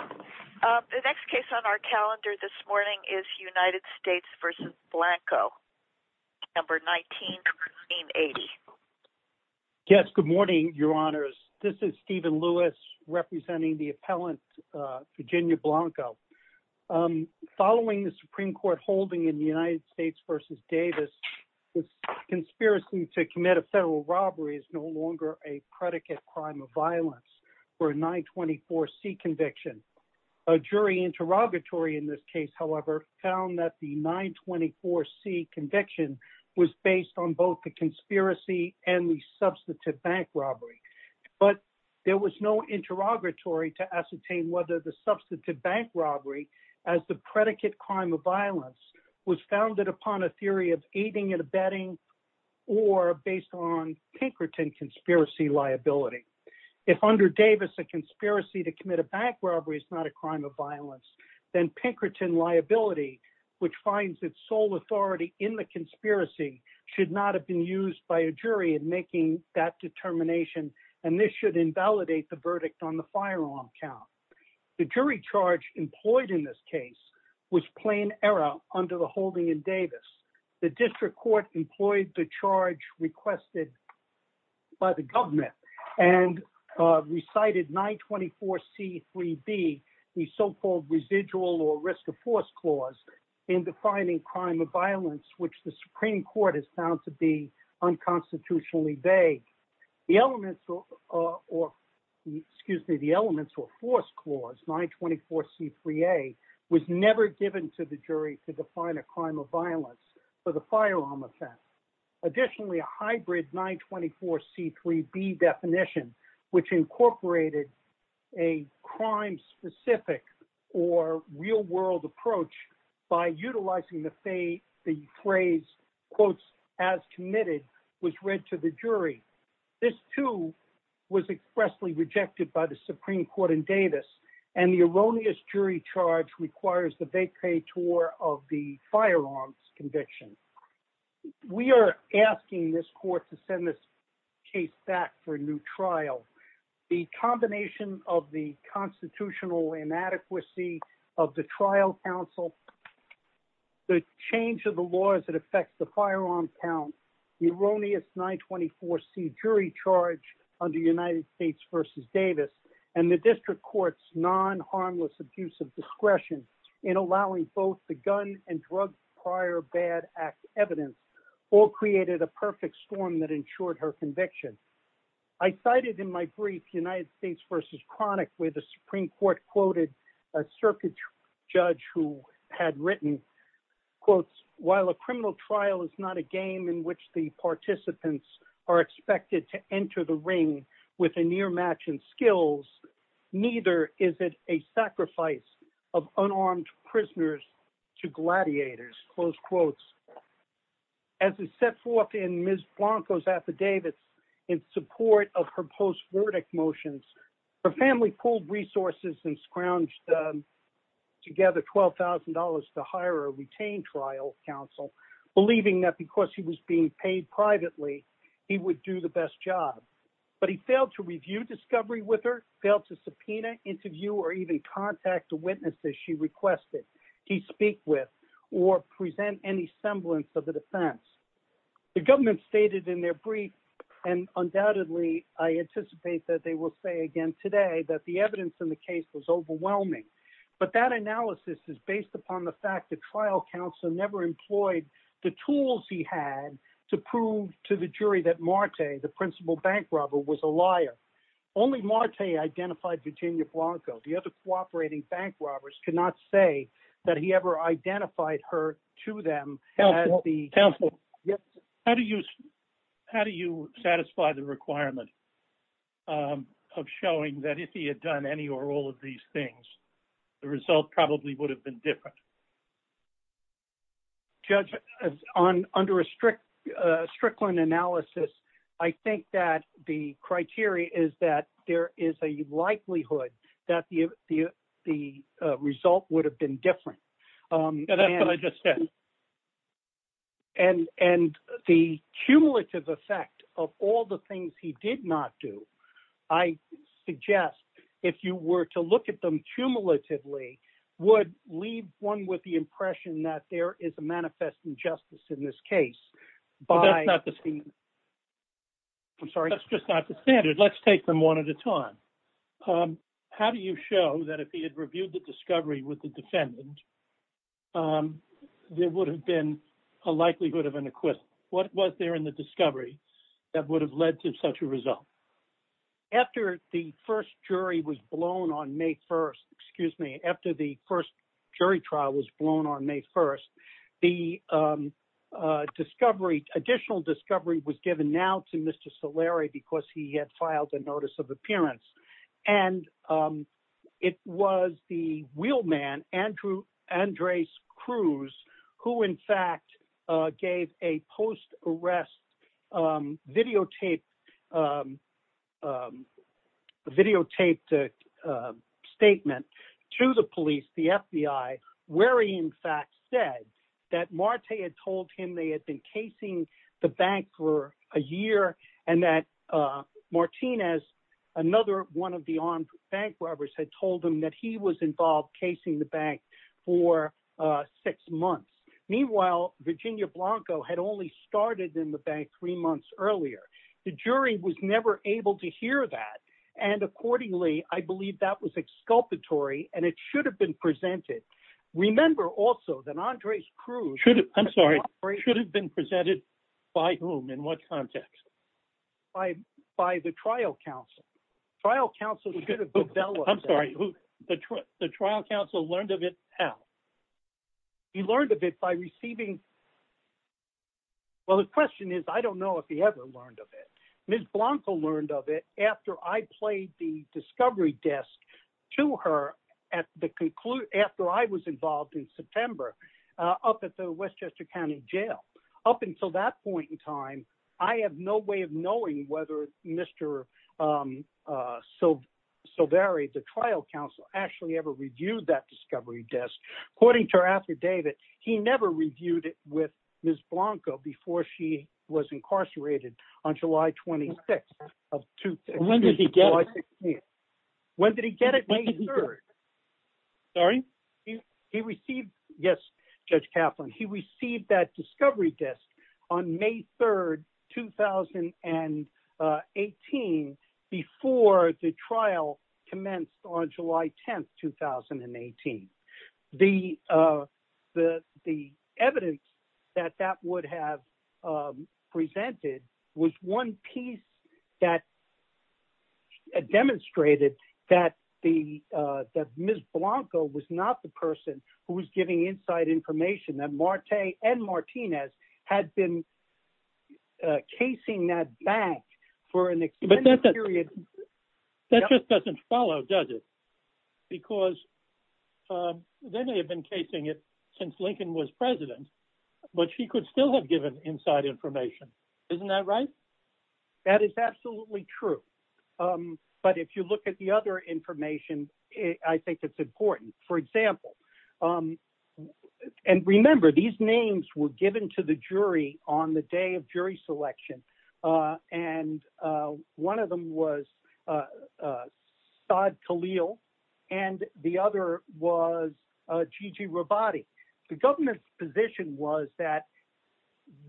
The next case on our calendar this morning is United States v. Blanco, December 19, 1980. Yes, good morning, your honors. This is Stephen Lewis representing the appellant, Virginia Blanco. Following the Supreme Court holding in the United States v. Davis, this conspiracy to commit a federal robbery is no longer a predicate crime of violence for a 924C conviction. A jury interrogatory in this case, however, found that the 924C conviction was based on both the conspiracy and the substantive bank robbery. But there was no interrogatory to ascertain whether the substantive bank robbery as the predicate crime of violence was founded upon a theory of aiding and abetting or based on Pinkerton conspiracy liability. If under Davis a conspiracy to commit a bank robbery is not a crime of violence, then Pinkerton liability, which finds its sole authority in the conspiracy, should not have been used by a jury in making that determination, and this should invalidate the verdict on the firearm count. The jury charge employed in this case was plain error under the holding in Davis. The district court employed the charge requested by the government and recited 924C3B, the so-called residual or risk of force clause, in defining crime of violence, which the Supreme Court has found to be unconstitutionally vague. The elements or, excuse me, the elements or force clause, 924C3A, was never given to the jury to define a crime of violence for the firearm offense. Additionally, a hybrid 924C3B definition, which incorporated a crime-specific or real-world approach by utilizing the phrase, quotes, as committed, was read to the jury. This, too, was expressly rejected by the Supreme Court in Davis, and the erroneous jury charge requires the vacatur of the firearms conviction. We are asking this court to send this case back for a new trial. The combination of the constitutional inadequacy of the trial counsel, the change of the laws that affect the firearm count, the erroneous 924C jury charge under United States v. Davis, and the district court's non-harmless abuse of discretion in allowing both the gun and drug prior bad act evidence, all created a perfect storm that ensured her conviction. I cited in my brief, United States v. Chronic, where the Supreme Court quoted a circuit judge who had written, quotes, while a criminal trial is not a game in which the participants are expected to enter the ring with a near match in skills, neither is it a sacrifice of unarmed prisoners to gladiators, close quotes. As is set forth in Ms. Blanco's affidavits in support of her post-verdict motions, her family pulled resources and scrounged together $12,000 to hire a retained trial counsel, believing that because he was being paid privately, he would do the best job. But he failed to review discovery with her, failed to subpoena, interview, or even contact the witnesses she requested he speak with or present any semblance of a defense. The government stated in their brief, and undoubtedly I anticipate that they will say again today, that the evidence in the case was overwhelming. But that analysis is based upon the fact the trial counsel never employed the tools he had to prove to the jury that Marte, the principal bank robber, was a liar. Only Marte identified Virginia Blanco. The other cooperating bank robbers could not say that he ever identified her to them. How do you satisfy the requirement of showing that if he had done any or all of these things, the result probably would have been different? Judge, under a Strickland analysis, I think that the criteria is that there is a likelihood that the result would have been different. That's what I just said. And the cumulative effect of all the things he did not do, I suggest if you were to look at them cumulatively, would leave one with the impression that there is a manifest injustice in this case. That's just not the standard, let's take them one at a time. How do you show that if he had reviewed the discovery with the defendant, there would have been a likelihood of an acquittal? What was there in the discovery that would have led to such a result? After the first jury was blown on May 1st, excuse me, after the first jury trial was blown on May 1st, the discovery, additional discovery was given now to Mr. Solari because he had filed a notice of appearance. And it was the wheelman Andres Cruz who in fact gave a post-arrest videotaped statement to the police, the FBI, where he in fact said that Marte had told him they had been casing the bank for a year and that another one of the armed bank robbers had told him that he was involved casing the bank for six months. Meanwhile, Virginia Blanco had only started in the bank three months earlier. The jury was never able to hear that. And accordingly, I believe that was exculpatory and it should have been presented. Remember also that Andres Cruz should have been presented by whom, in what context? By the trial counsel. The trial counsel learned of it how? He learned of it by receiving... Well, the question is, I don't know if he ever learned of it. Ms. Blanco learned of it after I played the discovery desk to her after I was involved in that. Until that point in time, I have no way of knowing whether Mr. Solari, the trial counsel, actually ever reviewed that discovery desk. According to her after David, he never reviewed it with Ms. Blanco before she was incarcerated on July 26th of 2016. When did he get it? May 3rd. Sorry? He received... Yes, Judge Kaplan. He received that discovery desk on May 3rd, 2018, before the trial commenced on July 10th, 2018. The evidence that that would have presented was one piece that demonstrated that Ms. Blanco was not the person who was giving inside information that Marte and Martinez had been casing that back for an extended period. But that just doesn't follow, does it? Because they may have been casing it since Lincoln was president, but she could still have given inside information. Isn't that right? That is absolutely true. But if you look at the other information, I think it's important. For example, and remember, these names were given to the jury on the day of jury selection. And one of them was Saad Khalil, and the other was Gigi Rabbati. The government's position was that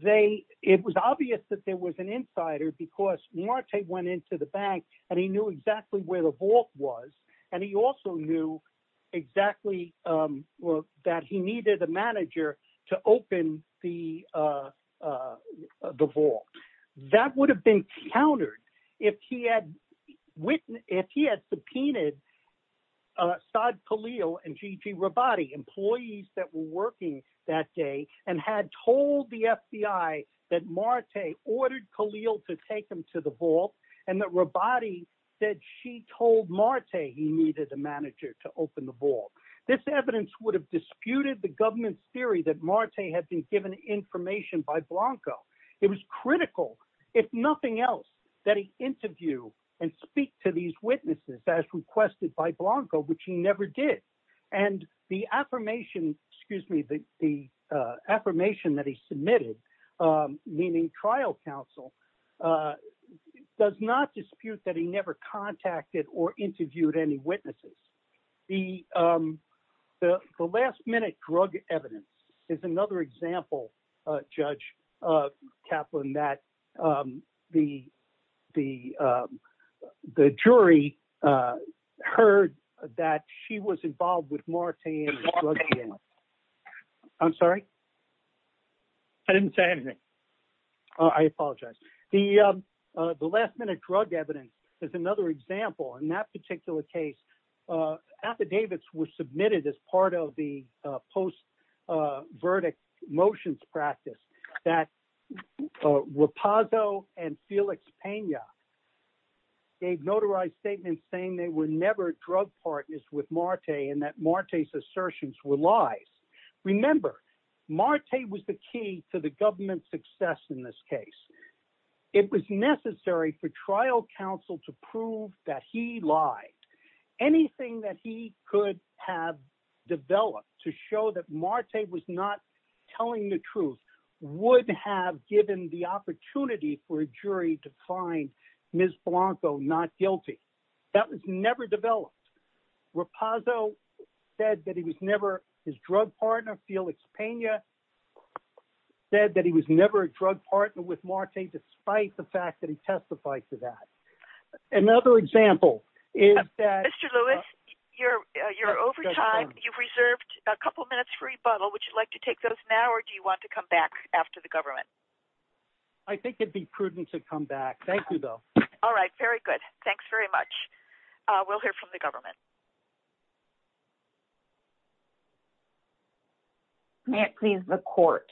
it was obvious that there was an insider because Marte went into the bank, and he knew exactly where the vault was. And he also knew exactly that he needed a manager to open the vault. That would have been countered if he had subpoenaed Saad Khalil and Gigi Rabbati, employees that were working that day, and had told the FBI that Marte ordered Khalil to take him to the vault, and that Rabbati said she told Marte he needed a manager to open the vault. This evidence would have disputed the government's theory that Marte had been given information by Blanco. It was critical, if nothing else, that he interview and speak to these witnesses as requested by Blanco, which he never did. And the affirmation that he submitted, meaning trial counsel, does not dispute that he never contacted or interviewed any of the witnesses. The last-minute drug evidence is another example. In that particular case, affidavits were submitted as part of the post-verdict motions practice that Rapazzo and Felix Pena gave notarized statements saying they were never drug partners with Marte, and that Marte's assertions were lies. Remember, Marte was the key to the government's success in this case. It was necessary for trial counsel to prove that he lied. Anything that he could have for a jury to find Ms. Blanco not guilty, that was never developed. Rapazzo said that he was never his drug partner. Felix Pena said that he was never a drug partner with Marte, despite the fact that he testified to that. Another example is that- Mr. Lewis, you're over time. You've reserved a couple minutes for rebuttal. Would you like to take those now, or do you want to come back after the government? I think it'd be prudent to come back. Thank you, though. All right. Very good. Thanks very much. We'll hear from the government. May it please the court.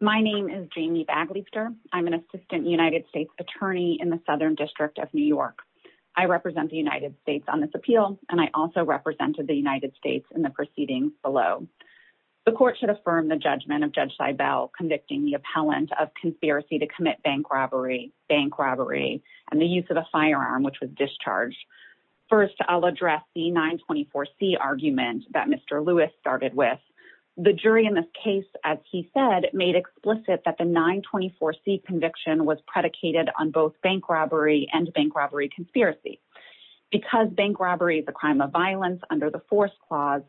My name is Jamie Bagleyster. I'm an assistant United States attorney in the Southern District of New York. I represent the United States on this appeal, and I also represented the United States in the proceedings below. The court should convicting the appellant of conspiracy to commit bank robbery and the use of a firearm, which was discharged. First, I'll address the 924C argument that Mr. Lewis started with. The jury in this case, as he said, made explicit that the 924C conviction was predicated on both bank robbery and bank robbery conspiracy. Because bank robbery is a crime of violence under the force clause,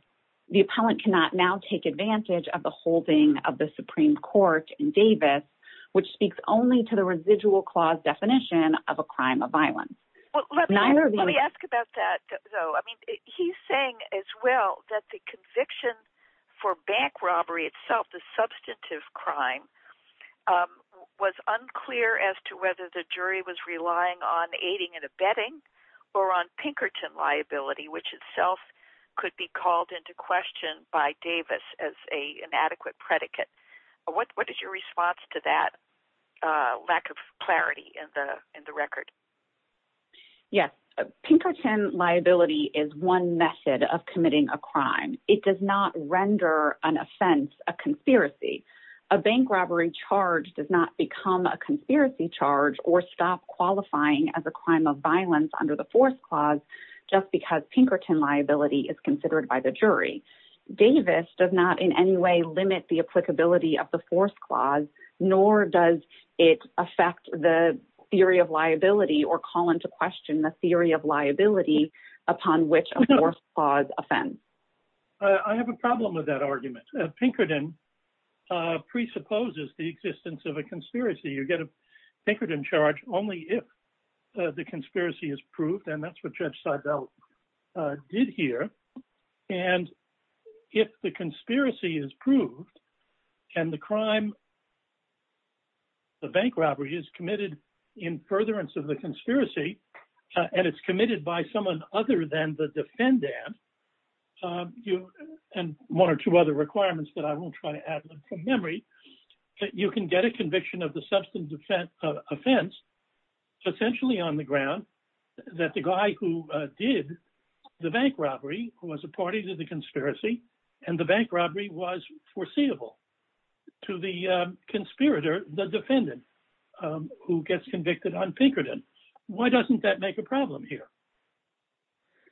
the appellant cannot now take advantage of the holding of the Supreme Court in Davis, which speaks only to the residual clause definition of a crime of violence. Let me ask about that, though. He's saying as well that the conviction for bank robbery itself, the substantive crime, was unclear as to whether the jury was relying on aiding and abetting or on Pinkerton liability, which itself could be called into question by Davis as an adequate predicate. What is your response to that lack of clarity in the record? Yes. Pinkerton liability is one method of committing a crime. It does not render an offense a conspiracy. A bank robbery charge does not become a conspiracy charge or stop qualifying as a crime of violence under the force clause just because Pinkerton liability is considered by the jury. Davis does not in any way limit the applicability of the force clause, nor does it affect the theory of liability or call into question the theory of liability upon which a force clause offends. I have a problem with that argument. Pinkerton presupposes the existence of a conspiracy. You get a Pinkerton charge only if the conspiracy is proved, and that's what Judge Seibel did here. And if the conspiracy is proved and the crime, the bank robbery is committed in furtherance of the conspiracy, and it's committed by someone other than the defendant, and one or two other requirements that I won't try to add from memory, you can get a conviction of the substance offense essentially on the ground that the guy who did the bank robbery was a party to the conspiracy, and the bank robbery was foreseeable to the conspirator, the defendant, who gets convicted on Pinkerton. Why doesn't that make a problem here?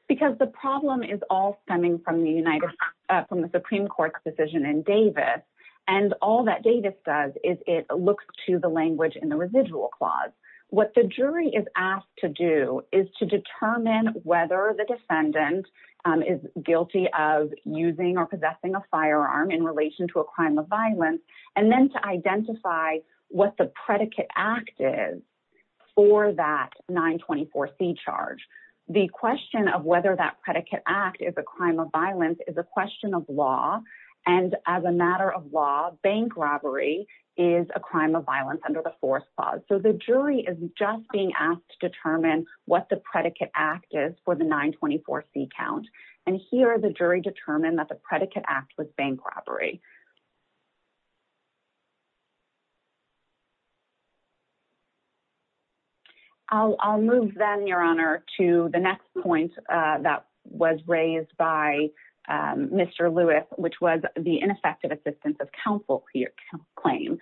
Because the problem is all stemming from the Supreme Court's decision in Davis, and all that Davis does is it looks to the language in the residual clause. What the jury is asked to do is to determine whether the defendant is guilty of using or is for that 924C charge. The question of whether that predicate act is a crime of violence is a question of law, and as a matter of law, bank robbery is a crime of violence under the fourth clause. So the jury is just being asked to determine what the predicate act is for the 924C count, and here the jury determined that the predicate act was bank robbery. I'll move then, Your Honor, to the next point that was raised by Mr. Lewis, which was the ineffective assistance of counsel claim.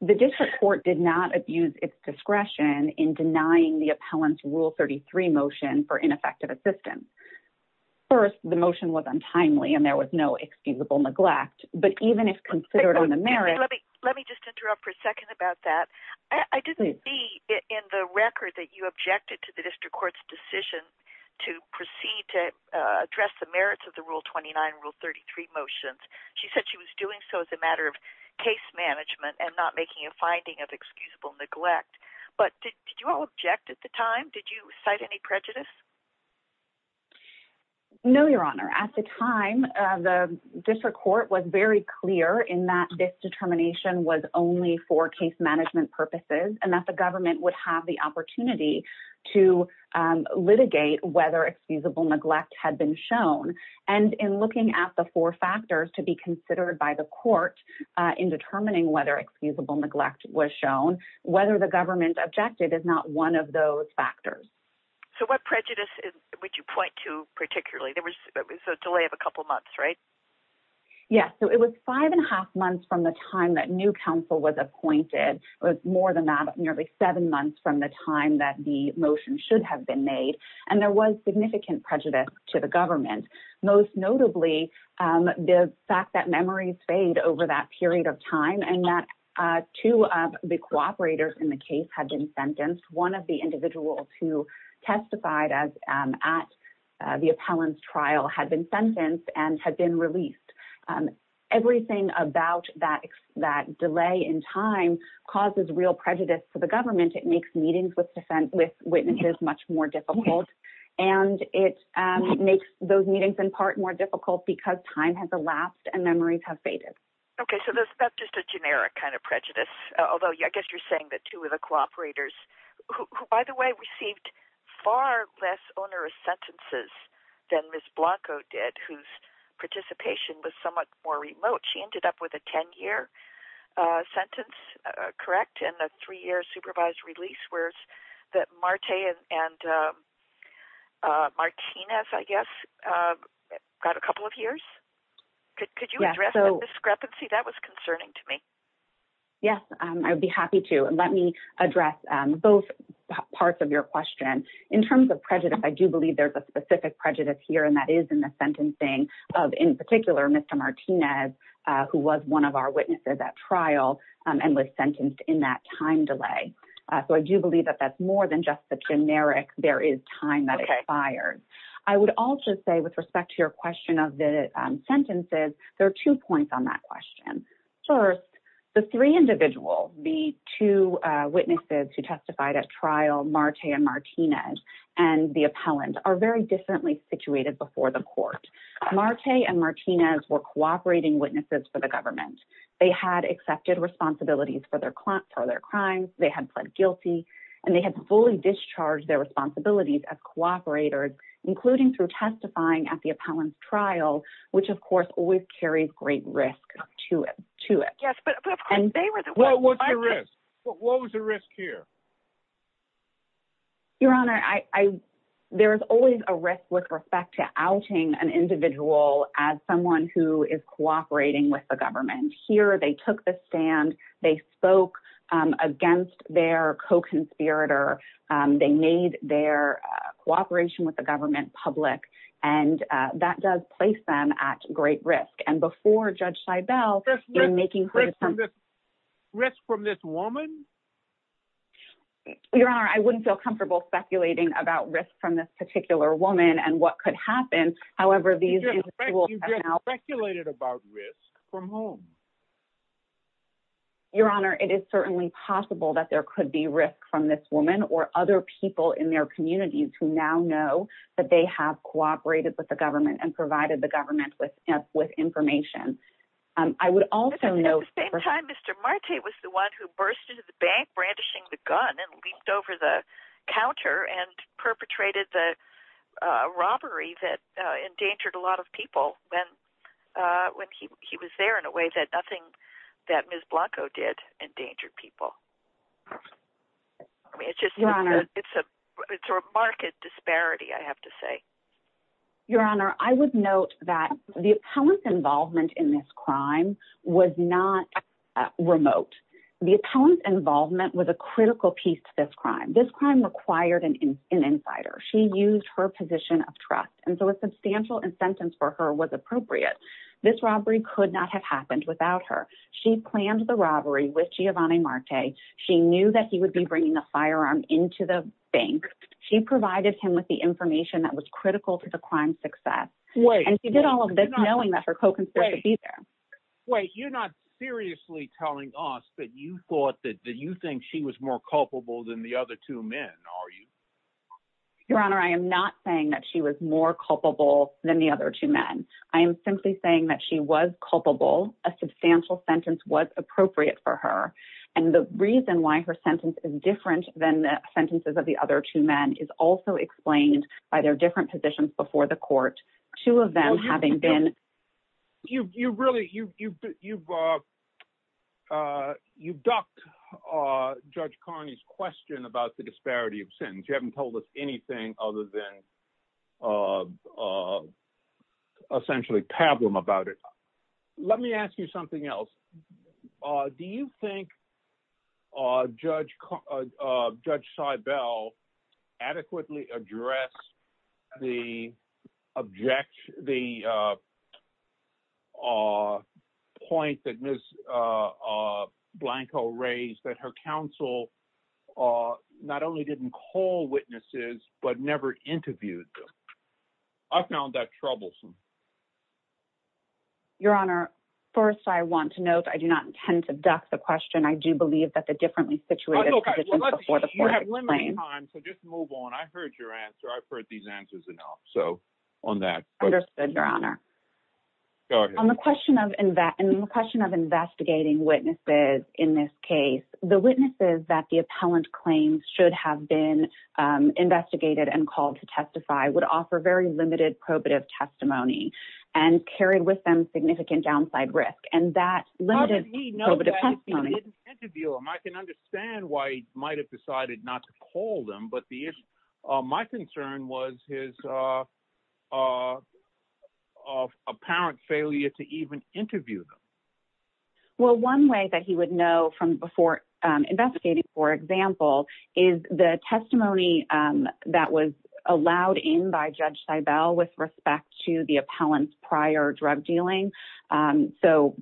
The district court did not abuse its discretion in denying the appellant's Rule 33 motion for ineffective assistance. First, the motion was untimely, and there was no excusable neglect, but even if considered on the merits... I didn't see in the record that you objected to the district court's decision to proceed to address the merits of the Rule 29 and Rule 33 motions. She said she was doing so as a matter of case management and not making a finding of excusable neglect, but did you all object at the time? Did you cite any prejudice? No, Your Honor. At the time, the district court was very clear in that this determination was only for case management purposes and that the government would have the opportunity to litigate whether excusable neglect had been shown, and in looking at the four factors to be considered by the court in determining whether excusable neglect was shown, whether the government objected is not one of those factors. So what prejudice would you point to particularly? There was a delay of a couple months, right? Yes. So it was five and a half months from the council was appointed. It was more than that, nearly seven months from the time that the motion should have been made, and there was significant prejudice to the government, most notably the fact that memories fade over that period of time and that two of the cooperators in the case had been sentenced. One of the individuals who testified at the appellant's trial had been sentenced. So that delay in time causes real prejudice to the government. It makes meetings with witnesses much more difficult, and it makes those meetings in part more difficult because time has elapsed and memories have faded. Okay, so that's just a generic kind of prejudice, although I guess you're saying that two of the cooperators who, by the way, received far less onerous sentences than Ms. Blanco did, whose participation was somewhat more remote. She sentenced, correct, in a three-year supervised release, whereas Marte and Martinez, I guess, got a couple of years. Could you address the discrepancy? That was concerning to me. Yes, I would be happy to. Let me address both parts of your question. In terms of prejudice, I do believe there's a specific prejudice here, and that is in the sentencing of, in particular, Mr. Martinez, who was one of our witnesses at trial and was sentenced in that time delay. So I do believe that that's more than just the generic, there is time that expired. I would also say, with respect to your question of the sentences, there are two points on that question. First, the three individuals, the two witnesses who testified at trial, Marte and Martinez, were cooperating witnesses for the government. They had accepted responsibilities for their crimes, they had pled guilty, and they had fully discharged their responsibilities as cooperators, including through testifying at the appellant's trial, which, of course, always carries great risk to it. What was the risk here? Your Honor, there is always a risk with respect to outing an individual as someone who is cooperating with the government. Here, they took the stand, they spoke against their co-conspirator, they made their cooperation with the government public, and that does place them at great risk. And before Judge Seibel— Risk from this woman? Your Honor, I wouldn't feel comfortable speculating about risk from this particular woman and what could happen. However, these individuals— You just speculated about risk from whom? Your Honor, it is certainly possible that there could be risk from this woman or other people in their communities who now know that they have cooperated with the government and provided the government with information. I would also note— At the same time, Mr. Marte was the one who burst into the bank brandishing the gun and leaped over the counter and perpetrated the robbery that endangered a lot of people when he was there in a way that nothing that Ms. Blanco did endangered people. It's a marked disparity, I have to say. Your Honor, I would note that the appellant's involvement in this crime was not remote. The appellant's involvement was a critical piece to this crime. This crime required an insider. She used her position of trust, and so a substantial incentive for her was appropriate. This robbery could not have happened without her. She planned the robbery with Giovanni Marte. She knew that he would be bringing a firearm into the bank. She provided him with the information that was critical to the crime's success. And she did all of this knowing that her co-conspirator would be there. Wait, you're not seriously telling us that you thought that you think she was more culpable than the other two men, are you? Your Honor, I am not saying that she was more culpable than the other two men. I am simply saying that she was culpable. A substantial sentence was appropriate for her. And the reason why her sentence is different than the sentences of the other two men is also explained by their different positions before the court, two of them having been— You've really—you've ducked Judge Carney's question about the disparity of sentence. You haven't told us anything other than essentially pablum about it. Let me ask you something else. Do you think Judge Seibel adequately addressed the point that Ms. Blanco raised, that her counsel not only didn't call witnesses but never interviewed them? I found that troublesome. Your Honor, first, I want to note I do not intend to duck the question. I do believe that the differently situated— You have limited time, so just move on. I heard your answer. I've heard these answers enough. So, on that— Understood, Your Honor. Go ahead. On the question of investigating witnesses in this case, the witnesses that the appellant claims should have been investigated and called to testify would offer very limited probative testimony and carry with them significant downside risk. And that limited probative testimony— I can understand why he might have decided not to call them, but my concern was his apparent failure to even interview them. Well, one way that he would know from before investigating, for example, is the testimony that was allowed in by Judge Seibel with respect to appellant's prior drug dealing. So,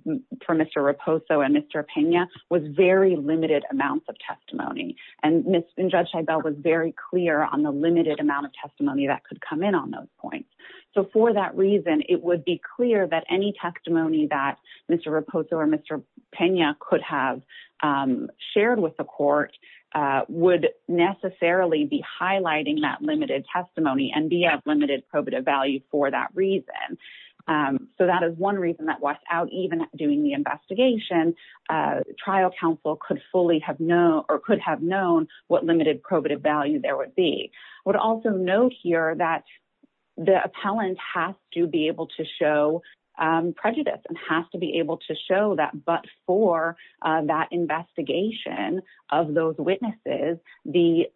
for Mr. Raposo and Mr. Pena, was very limited amounts of testimony. And Judge Seibel was very clear on the limited amount of testimony that could come in on those points. So, for that reason, it would be clear that any testimony that Mr. Raposo or Mr. Pena could have shared with the court would necessarily be highlighting that limited testimony and be of limited probative value for that reason. So, that is one reason that was out even doing the investigation. Trial counsel could fully have known or could have known what limited probative value there would be. I would also note here that the appellant has to be able to show prejudice and has to be able to show that but for that investigation of those witnesses, there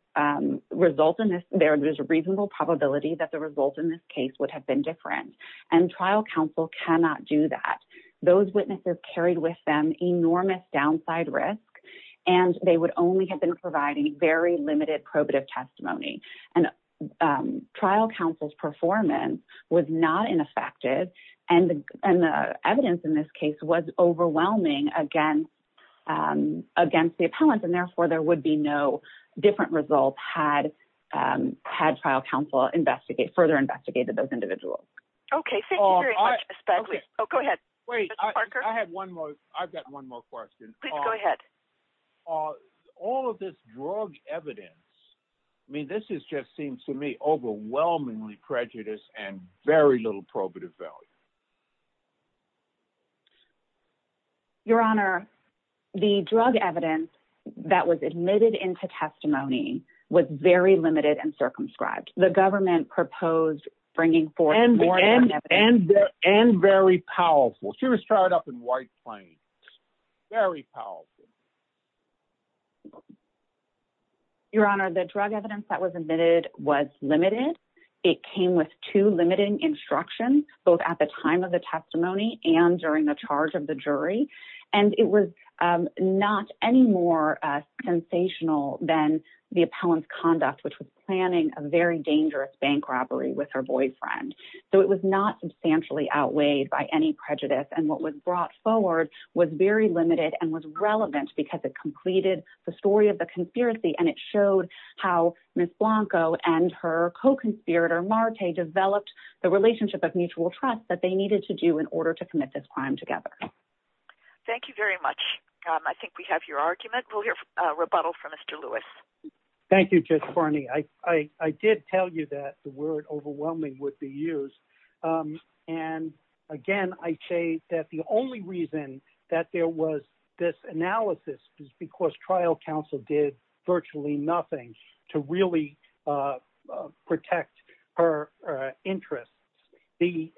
is a reasonable probability that the result in this case would have been different. And trial counsel cannot do that. Those witnesses carried with them enormous downside risk and they would only have been providing very limited probative testimony. And trial counsel's performance was not ineffective and the evidence in this case was overwhelming against the different results had trial counsel further investigated those individuals. All of this drug evidence, I mean, this just seems to me overwhelmingly prejudiced and into testimony was very limited and circumscribed. The government proposed bringing forth more evidence. And very powerful. She was tied up in white plains. Very powerful. Your Honor, the drug evidence that was admitted was limited. It came with two limiting instructions both at the time of the testimony and during the charge of the jury. And it was not any more sensational than the appellant's conduct which was planning a very dangerous bank robbery with her boyfriend. So it was not substantially outweighed by any prejudice. And what was brought forward was very limited and was relevant because it completed the story of the conspiracy and it showed how Ms. Blanco and her co-conspirator Marte developed the relationship of mutual trust that they needed to do in order to commit this crime together. Thank you very much. I think we have your argument. We'll hear a rebuttal from Mr. Lewis. Thank you, Judge Farney. I did tell you that the word overwhelming would be used. And again, I say that the only reason that there was this analysis is because trial counsel did virtually nothing to really protect her The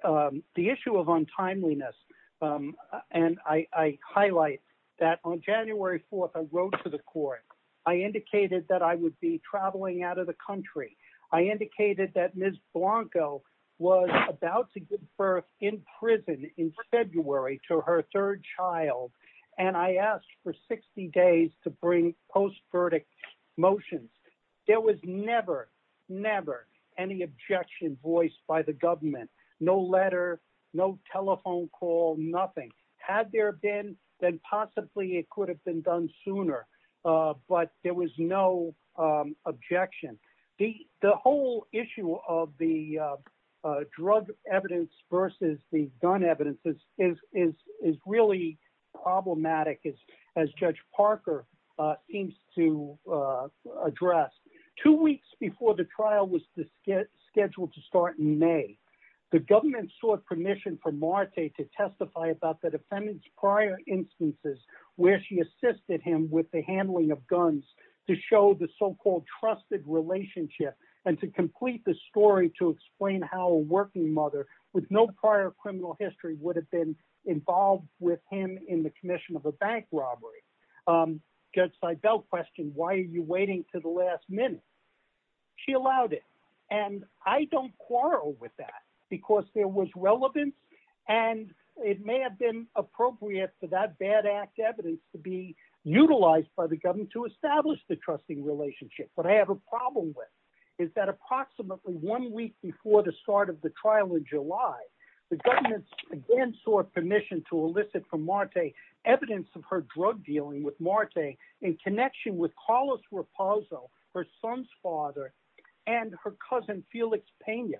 issue of untimeliness, and I highlight that on January 4th, I wrote to the court. I indicated that I would be traveling out of the country. I indicated that Ms. Blanco was about to give birth in prison in February to her third child. And I asked for 60 days to bring post-verdict motions. There was never, never any objection voiced by the government. No letter, no telephone call, nothing. Had there been, then possibly it could have been done sooner. But there was no objection. The whole issue of the drug evidence versus the gun evidence is really problematic as Judge Parker seems to address. Two weeks before the trial was scheduled to start in May, the government sought permission from Marte to testify about the defendant's prior instances where she assisted him with the handling of guns to show the so-called trusted relationship and to complete the story to explain how a working mother with no prior criminal history would have been involved with him in the commission of a bank robbery. Judge Seibel questioned, why are you waiting to the last minute? She allowed it. And I don't quarrel with that because there was relevance and it may have been appropriate for that bad act evidence to be utilized by the government to establish the trusting relationship. What I have a problem with is that approximately one week before the start of the trial in July, the government again sought permission to elicit from Marte evidence of her drug dealing with Marte in connection with Carlos Raposo, her son's father, and her cousin Felix Pena.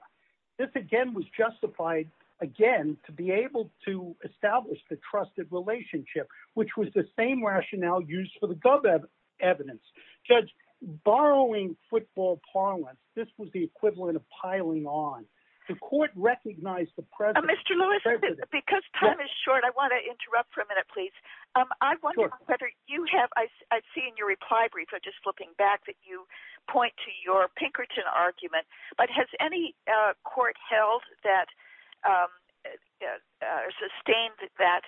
This again was justified again to be able to establish the trusted relationship, which was the same rationale used for the evidence. Judge, borrowing football parlance, this was the equivalent of Mr. Lewis, because time is short, I want to interrupt for a minute, please. I wonder whether you have, I see in your reply brief, I'm just flipping back that you point to your Pinkerton argument, but has any court held that sustained that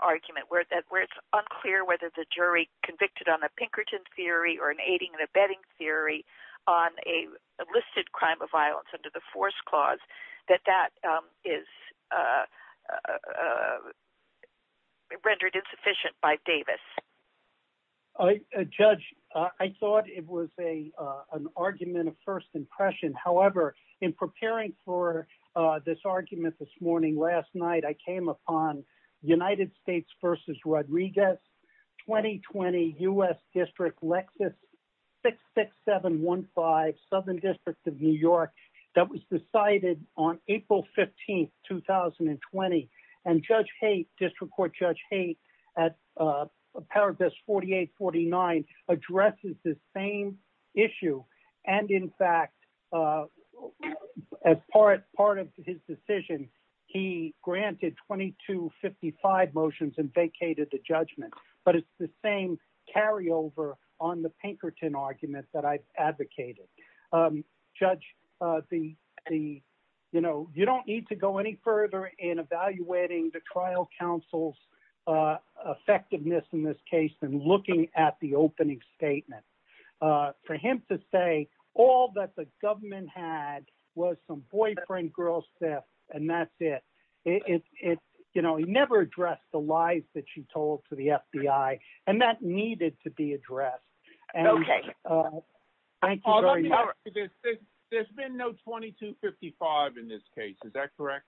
argument where it's unclear whether the jury convicted on a Pinkerton theory or an aiding and abetting theory on a listed crime of violence under the force clause, that that is rendered insufficient by Davis? Judge, I thought it was an argument of first impression. However, in preparing for this argument this morning, last night, I came upon United States v. Rodriguez, 2020 U.S. District Lexis 66715, Southern District of New York, that was decided on April 15, 2020. And Judge Haight, District Court Judge Haight, at Paragraphs 48-49, addresses the same issue. And in fact, as part of his decision, he granted 2255 motions and vacated the judgment. But it's the same carryover on the Pinkerton argument that I've advocated. Judge, you don't need to go any further in evaluating the trial counsel's effectiveness in this case than looking at the opening statement. For him to say all that the government had was some boyfriend girl theft, and that's it. He never addressed the lies that she told to the FBI, and that needed to be addressed. There's been no 2255 in this case, is that correct?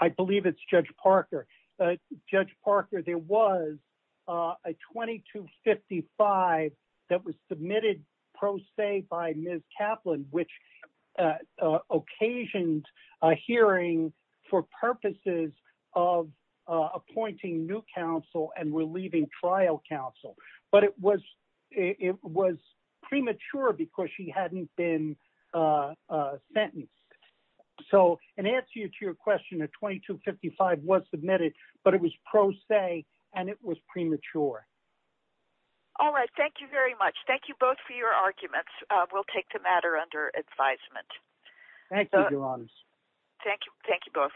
I believe it's Judge Parker. Judge Parker, there was a 2255 that was submitted pro se by Ms. of appointing new counsel and relieving trial counsel. But it was premature because she hadn't been sentenced. So in answer to your question, a 2255 was submitted, but it was pro se, and it was premature. All right. Thank you very much. Thank you both for your arguments. We'll take the matter under advisement. Thank you, Your Honors. Thank you. Thank you both.